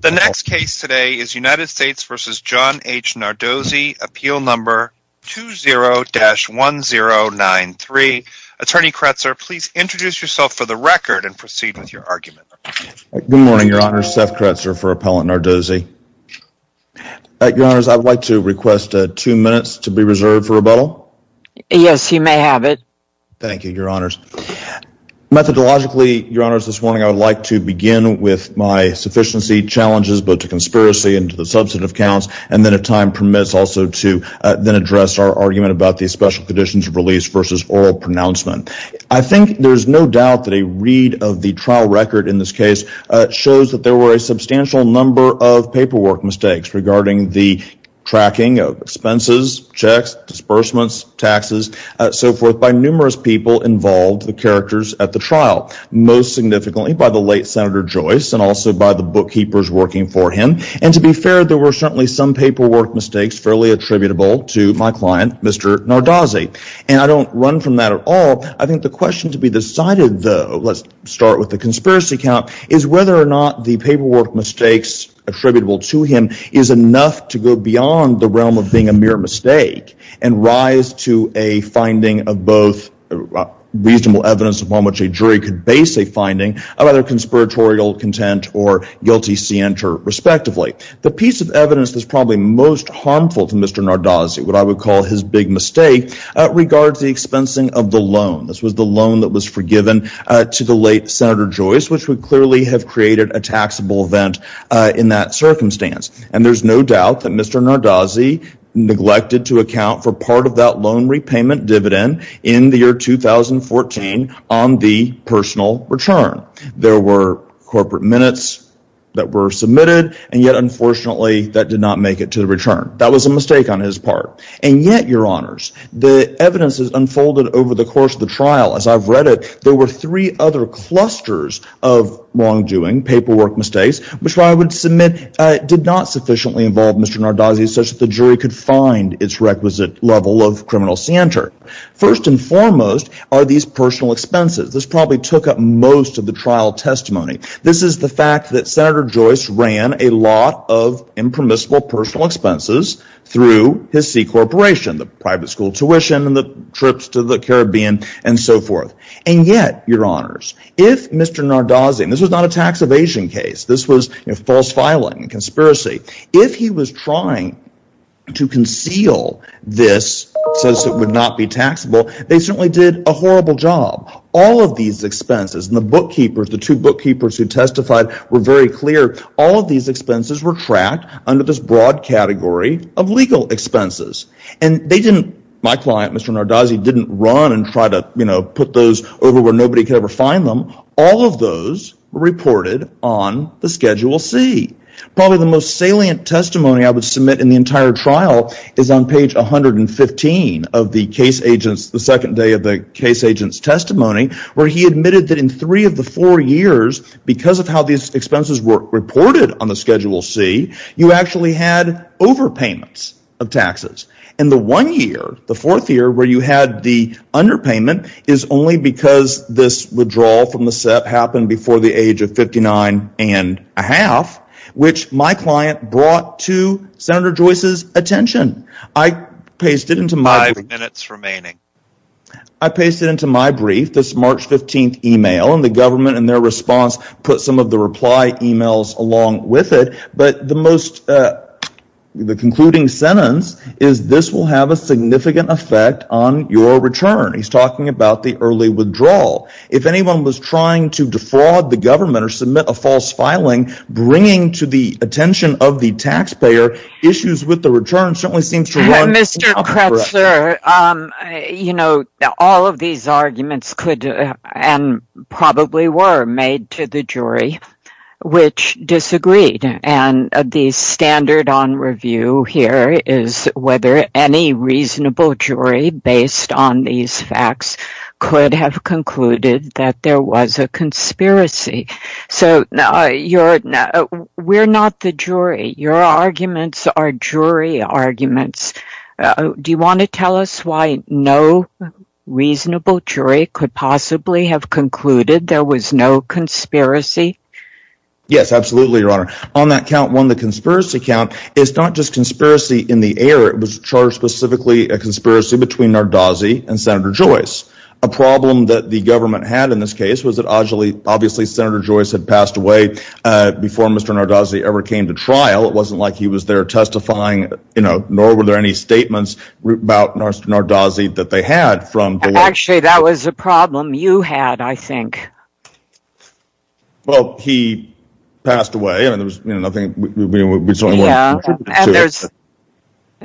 The next case today is United States v. John H. Nardozzi, Appeal No. 20-1093. Attorney Kretzer, please introduce yourself for the record and proceed with your argument. Good morning, Your Honors. Seth Kretzer for Appellant Nardozzi. Your Honors, I would like to request two minutes to be reserved for rebuttal. Yes, you may have it. Thank you, Your Honors. Methodologically, Your Honors, this morning I would like to begin with my sufficiency challenges both to conspiracy and to the substantive counts, and then if time permits also to then address our argument about the special conditions of release versus oral pronouncement. I think there is no doubt that a read of the trial record in this case shows that there were a substantial number of paperwork mistakes regarding the tracking of expenses, checks, disbursements, taxes, so forth by numerous people involved, the characters at the trial, most significantly by the late Senator Joyce and also by the bookkeepers working for him. And to be fair, there were certainly some paperwork mistakes fairly attributable to my client, Mr. Nardozzi. And I don't run from that at all. I think the question to be decided, though, let's start with the conspiracy count, is whether or not the paperwork mistakes attributable to him is enough to go beyond the realm of being a mere mistake and rise to a finding of both reasonable evidence upon which a jury could base a finding of either conspiratorial content or guilty scienter, respectively. The piece of evidence that's probably most harmful to Mr. Nardozzi, what I would call his big mistake, regards the expensing of the loan. This was the loan that was forgiven to the late Senator Joyce, which would clearly have created a taxable event in that circumstance. And there's no doubt that Mr. Nardozzi neglected to account for part of that loan repayment dividend in the year 2014 on the personal return. There were corporate minutes that were submitted, and yet, unfortunately, that did not make it to the return. That was a mistake on his part. And yet, Your Honors, the evidence has unfolded over the course of the trial. As I've read it, there were three other clusters of wrongdoing, paperwork mistakes, which I would submit did not sufficiently involve Mr. Nardozzi such that the jury could find its requisite level of criminal scienter. First and foremost are these personal expenses. This probably took up most of the trial testimony. This is the fact that Senator Joyce ran a lot of impermissible personal expenses through his C Corporation, the private school tuition and the trips to the Caribbean and so forth. And yet, Your Honors, if Mr. Nardozzi, and this was not a tax evasion case, this was false filing, a conspiracy, if he was trying to conceal this since it would not be taxable, they certainly did a horrible job. All of these expenses, and the bookkeepers, the two bookkeepers who testified were very clear, all of these expenses were tracked under this broad category of legal expenses. And they didn't, my client, Mr. Nardozzi, didn't run and try to, you know, put those over where nobody could ever find them. All of those were reported on the Schedule C. Probably the most salient testimony I would submit in the entire trial is on page 115 of the case agent's, the second day of the case agent's testimony, where he admitted that in three of the four years, because of how these expenses were reported on the Schedule C, you actually had overpayments of taxes. And the one year, the fourth year, where you had the underpayment is only because this withdrawal from the SEP happened before the age of 59 and a half, which my client brought to Senator Joyce's attention. I pasted into my brief. Five minutes remaining. I pasted into my brief this March 15th email, and the government in their response put some of the reply emails along with it, but the most, the concluding sentence is, this will have a significant effect on your return. He's talking about the early withdrawal. If anyone was trying to defraud the government or submit a false filing, bringing to the attention of the taxpayer issues with the return certainly seems to run incorrect. Mr. Kretzler, you know, all of these arguments could and probably were made to the jury, which disagreed. And the standard on review here is whether any reasonable jury based on these facts could have concluded that there was a conspiracy. So, we're not the jury. Your arguments are jury arguments. Do you want to tell us why no reasonable jury could possibly have concluded there was no conspiracy? Yes, absolutely, Your Honor. On that count, one, the conspiracy count, it's not just conspiracy in the air. It was charged specifically a conspiracy between Nardozzi and Senator Joyce. A problem that the government had in this case was that obviously Senator Joyce had passed away before Mr. Nardozzi ever came to trial. It wasn't like he was there testifying, you know, nor were there any statements about Nardozzi that they had. Actually, that was a problem you had, I think. Well, he passed away. I mean, there was, you know, nothing. Yeah, and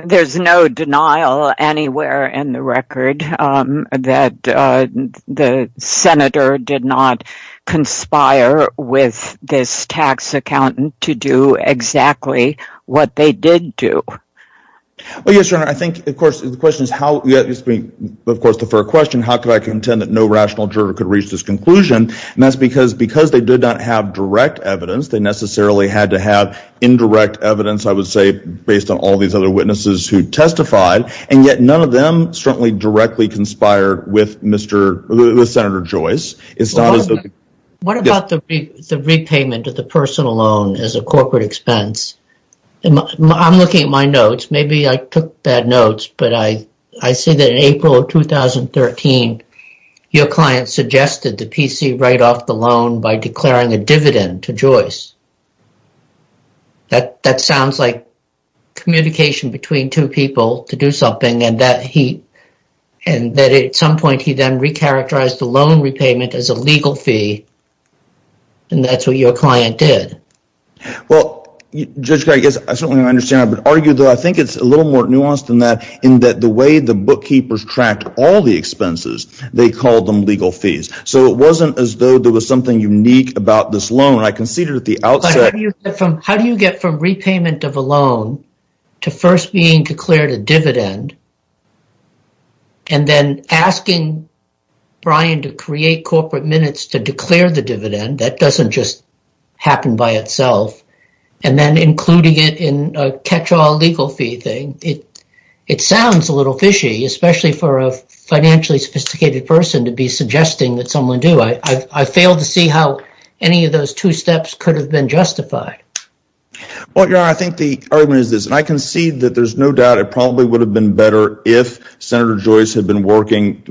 there's no denial anywhere in the record that the senator did not conspire with this tax accountant to do exactly what they did do. Well, yes, Your Honor. I think, of course, the question is how, of course, the fair question, how could I contend that no rational juror could reach this conclusion, and that's because they did not have direct evidence. They necessarily had to have indirect evidence, I would say, based on all these other witnesses who testified, and yet none of them certainly directly conspired with Senator Joyce. What about the repayment of the personal loan as a corporate expense? I'm looking at my notes. Maybe I took bad notes, but I see that in April of 2013, your client suggested the PC write off the loan by declaring a dividend to Joyce. That sounds like communication between two people to do something, and that at some point he then recharacterized the loan repayment as a legal fee, and that's what your client did. Well, Judge Craig, I certainly understand that, but argue that I think it's a little more nuanced than that in that the way the bookkeepers tracked all the expenses, they called them legal fees. So it wasn't as though there was something unique about this loan. I conceded at the outset. But how do you get from repayment of a loan to first being declared a dividend and then asking Brian to create corporate minutes to declare the dividend? That doesn't just happen by itself, and then including it in a catch-all legal fee thing. It sounds a little fishy, especially for a financially sophisticated person to be suggesting that someone do. I fail to see how any of those two steps could have been justified. I think the argument is this, and I concede that there's no doubt it probably would have been better if Senator Joyce had been working,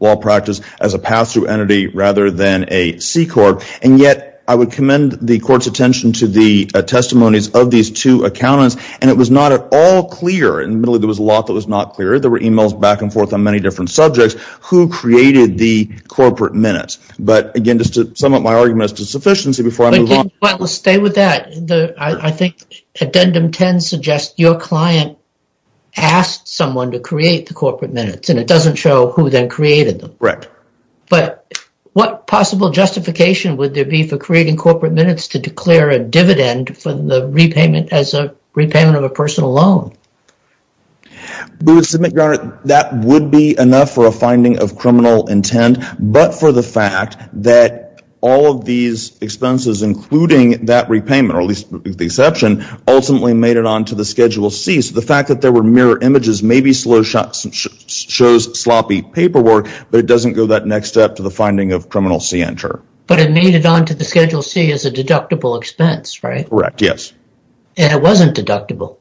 law practice, as a pass-through entity rather than a C Corp. And yet I would commend the Court's attention to the testimonies of these two accountants, and it was not at all clear. Admittedly, there was a lot that was not clear. There were e-mails back and forth on many different subjects. Who created the corporate minutes? But again, just to sum up my argument as to sufficiency before I move on. Stay with that. I think Addendum 10 suggests your client asked someone to create the corporate minutes, and it doesn't show who then created them. But what possible justification would there be for creating corporate minutes to declare a dividend for the repayment as a repayment of a personal loan? We would submit, Your Honor, that would be enough for a finding of criminal intent, but for the fact that all of these expenses, including that repayment, or at least the exception, ultimately made it onto the Schedule C. So the fact that there were mirror images maybe shows sloppy paperwork, but it doesn't go that next step to the finding of criminal scienter. But it made it onto the Schedule C as a deductible expense, right? Correct, yes. And it wasn't deductible.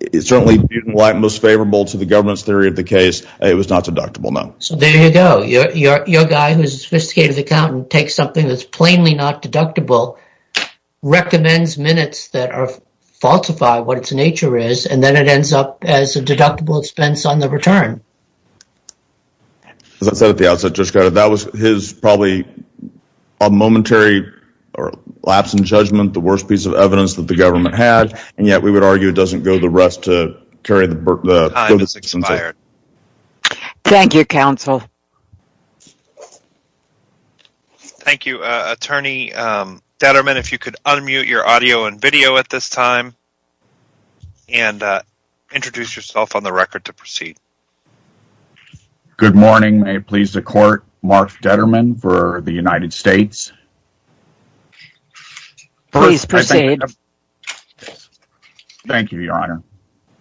It certainly didn't lie most favorable to the government's theory of the case. It was not deductible, no. So there you go. Your guy who's a sophisticated accountant takes something that's plainly not deductible, recommends minutes that falsify what its nature is, and then it ends up as a deductible expense on the return. As I said at the outset, Judge Carter, that was his probably momentary lapse in judgment, the worst piece of evidence that the government had, and yet we would argue it doesn't go the rest to carry the burden. Time has expired. Thank you, counsel. Thank you, Attorney Detterman. If you could unmute your audio and video at this time and introduce yourself on the record to proceed. Good morning. May it please the Court, Mark Detterman for the United States. Please proceed. Thank you, Your Honor.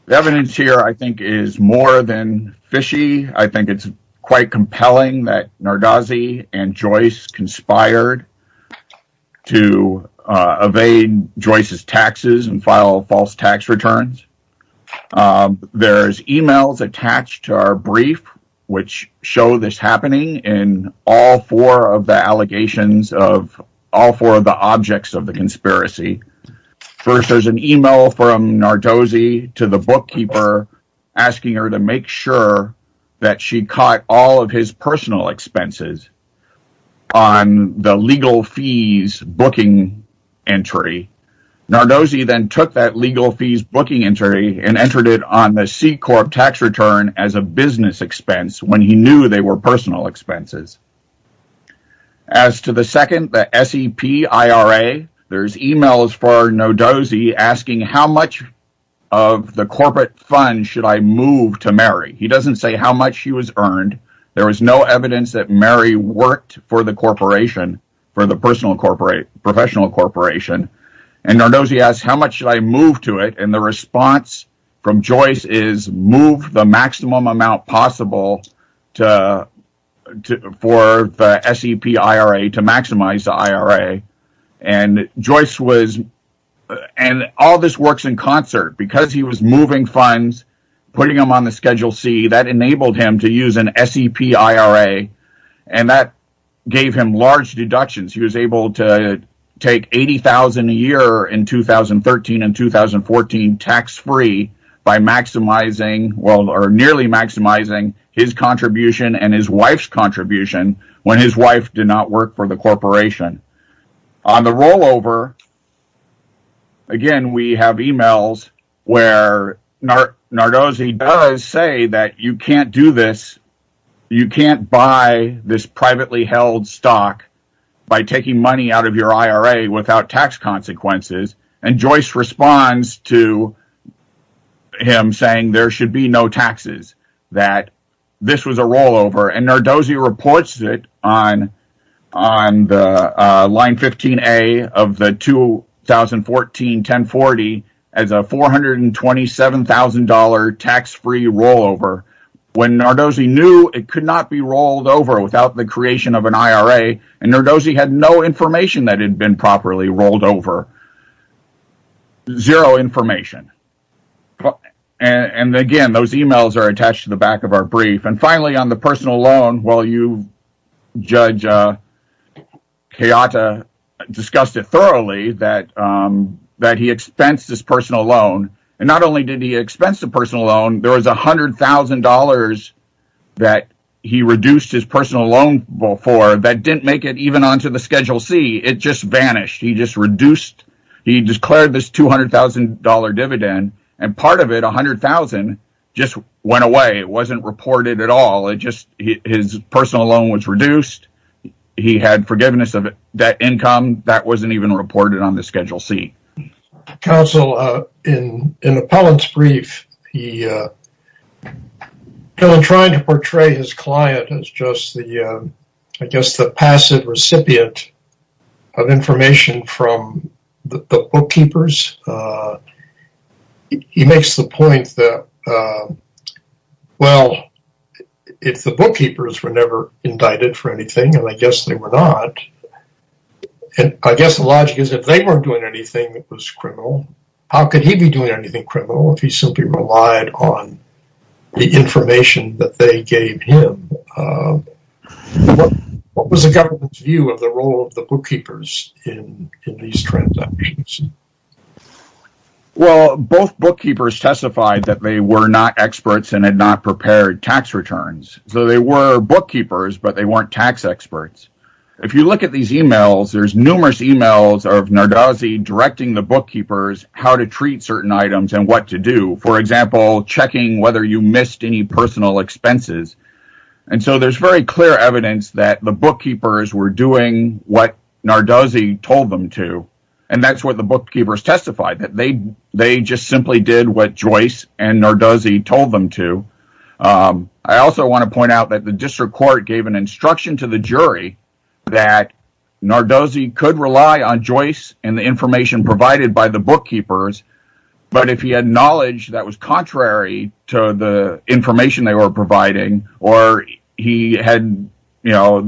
The evidence here I think is more than fishy. I think it's quite compelling that Nardozzi and Joyce conspired to evade Joyce's taxes and file false tax returns. There's e-mails attached to our brief which show this happening in all four of the allegations of all four of the objects of the conspiracy. First, there's an e-mail from Nardozzi to the bookkeeper asking her to make sure that she caught all of his personal expenses on the legal fees booking entry. Nardozzi then took that legal fees booking entry and entered it on the C-Corp tax return as a business expense when he knew they were personal expenses. As to the second, the SEPIRA, there's e-mails for Nardozzi asking how much of the corporate funds should I move to Mary. He doesn't say how much he was earned. There was no evidence that Mary worked for the corporation, for the professional corporation. Nardozzi asked how much should I move to it, and the response from Joyce is move the maximum amount possible for the SEPIRA to maximize the IRA. All of this works in concert. Because he was moving funds, putting them on the Schedule C, that enabled him to use an SEPIRA, and that gave him large deductions. He was able to take $80,000 a year in 2013 and 2014 tax-free by nearly maximizing his contribution and his wife's contribution when his wife did not work for the corporation. On the rollover, again, we have e-mails where Nardozzi does say that you can't do this. You can't buy this privately held stock by taking money out of your IRA without tax consequences, and Joyce responds to him saying there should be no taxes, that this was a rollover. Nardozzi reports it on Line 15A of the 2014 1040 as a $427,000 tax-free rollover when Nardozzi knew it could not be rolled over without the creation of an IRA, and Nardozzi had no information that it had been properly rolled over. Zero information. Again, those e-mails are attached to the back of our brief. Finally, on the personal loan, Judge Chiata discussed it thoroughly that he expensed his personal loan, and not only did he expense the personal loan, there was $100,000 that he reduced his personal loan for that didn't make it even onto the Schedule C. It just vanished. He declared this $200,000 dividend, and part of it, $100,000, just went away. It wasn't reported at all. His personal loan was reduced. He had forgiveness of debt income. That wasn't even reported on the Schedule C. Counsel, in the Pellants' brief, he tried to portray his client as just, I guess, the passive recipient of information from the bookkeepers. He makes the point that, well, if the bookkeepers were never indicted for anything, and I guess they were not, and I guess the logic is if they weren't doing anything, it was criminal. How could he be doing anything criminal if he simply relied on the information that they gave him? What was the government's view of the role of the bookkeepers in these transactions? Well, both bookkeepers testified that they were not experts and had not prepared tax returns, so they were bookkeepers, but they weren't tax experts. If you look at these emails, there's numerous emails of Nardozzi directing the bookkeepers how to treat certain items and what to do, for example, checking whether you missed any personal expenses. There's very clear evidence that the bookkeepers were doing what Nardozzi told them to, and that's what the bookkeepers testified. They just simply did what Joyce and Nardozzi told them to. I also want to point out that the district court gave an instruction to the jury that Nardozzi could rely on Joyce and the information provided by the bookkeepers, but if he had knowledge that was contrary to the information they were providing or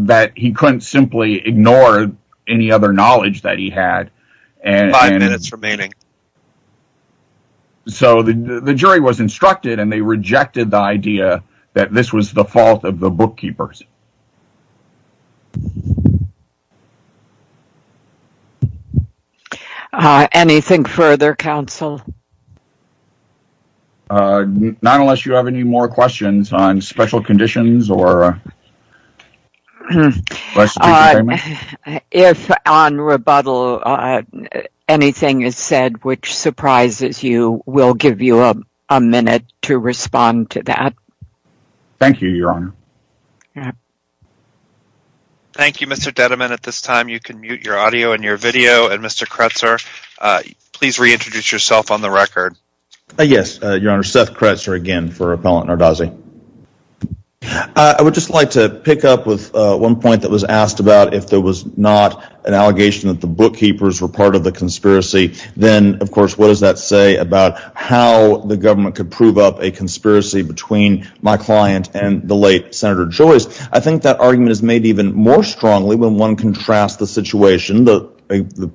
that he couldn't simply ignore any other knowledge that he had. Five minutes remaining. So the jury was instructed, and they rejected the idea that this was the fault of the bookkeepers. Anything further, counsel? Not unless you have any more questions on special conditions. If, on rebuttal, anything is said which surprises you, we'll give you a minute to respond to that. Thank you, Your Honor. Thank you, Mr. Dediman. At this time, you can mute your audio and your video, and Mr. Kretzer, please reintroduce yourself on the record. Yes, Your Honor. Seth Kretzer again for Appellant Nardozzi. I would just like to pick up with one point that was asked about. If there was not an allegation that the bookkeepers were part of the conspiracy, then, of course, what does that say about how the government could prove up a conspiracy between my client and the late Senator Joyce? I think that argument is made even more strongly when one contrasts the situation, the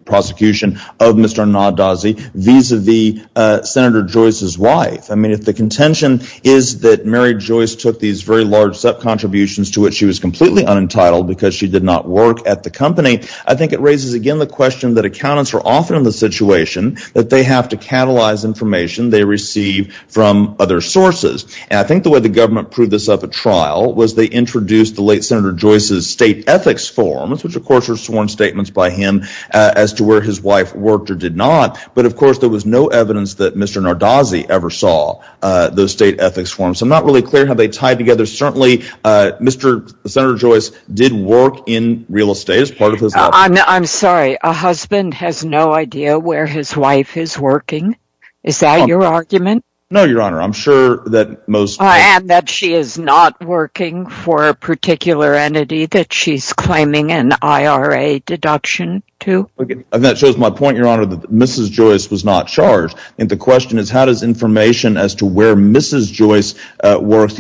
prosecution of Mr. Nardozzi, vis-à-vis Senator Joyce's wife. I mean, if the contention is that Mary Joyce took these very large sub-contributions to which she was completely unentitled because she did not work at the company, I think it raises again the question that accountants are often in the situation that they have to catalyze information they receive from other sources. And I think the way the government proved this up at trial was they introduced the late Senator Joyce's state ethics forms, which, of course, were sworn statements by him as to where his wife worked or did not. But, of course, there was no evidence that Mr. Nardozzi ever saw those state ethics forms. I'm not really clear how they tied together. Certainly, Senator Joyce did work in real estate as part of his life. I'm sorry. A husband has no idea where his wife is working? Is that your argument? No, Your Honor. I'm sure that most— And that she is not working for a particular entity that she's claiming an IRA deduction to? That shows my point, Your Honor, that Mrs. Joyce was not charged. And the question is how does information as to where Mrs. Joyce works,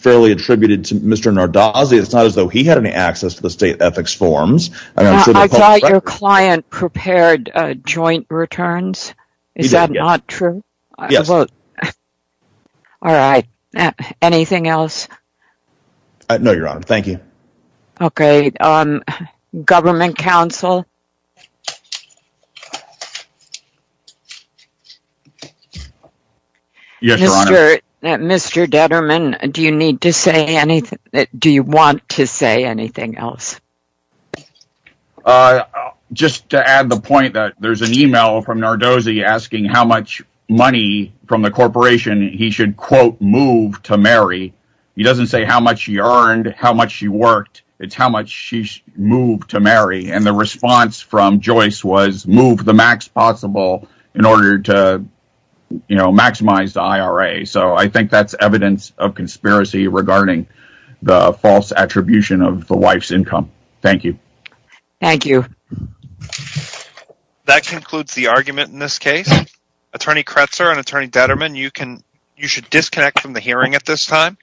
fairly attributed to Mr. Nardozzi, it's not as though he had any access to the state ethics forms. I thought your client prepared joint returns? Is that not true? Yes. All right. Anything else? No, Your Honor. Thank you. Yes, Your Honor. Mr. Detterman, do you want to say anything else? Just to add the point that there's an email from Nardozzi asking how much money from the corporation he should, quote, move to Mary. He doesn't say how much he earned, how much she worked. It's how much she moved to Mary. And the response from Joyce was move the max possible in order to, you know, maximize the IRA. So I think that's evidence of conspiracy regarding the false attribution of the wife's income. Thank you. Thank you. That concludes the argument in this case. Attorney Kretzer and Attorney Detterman, you should disconnect from the hearing at this time.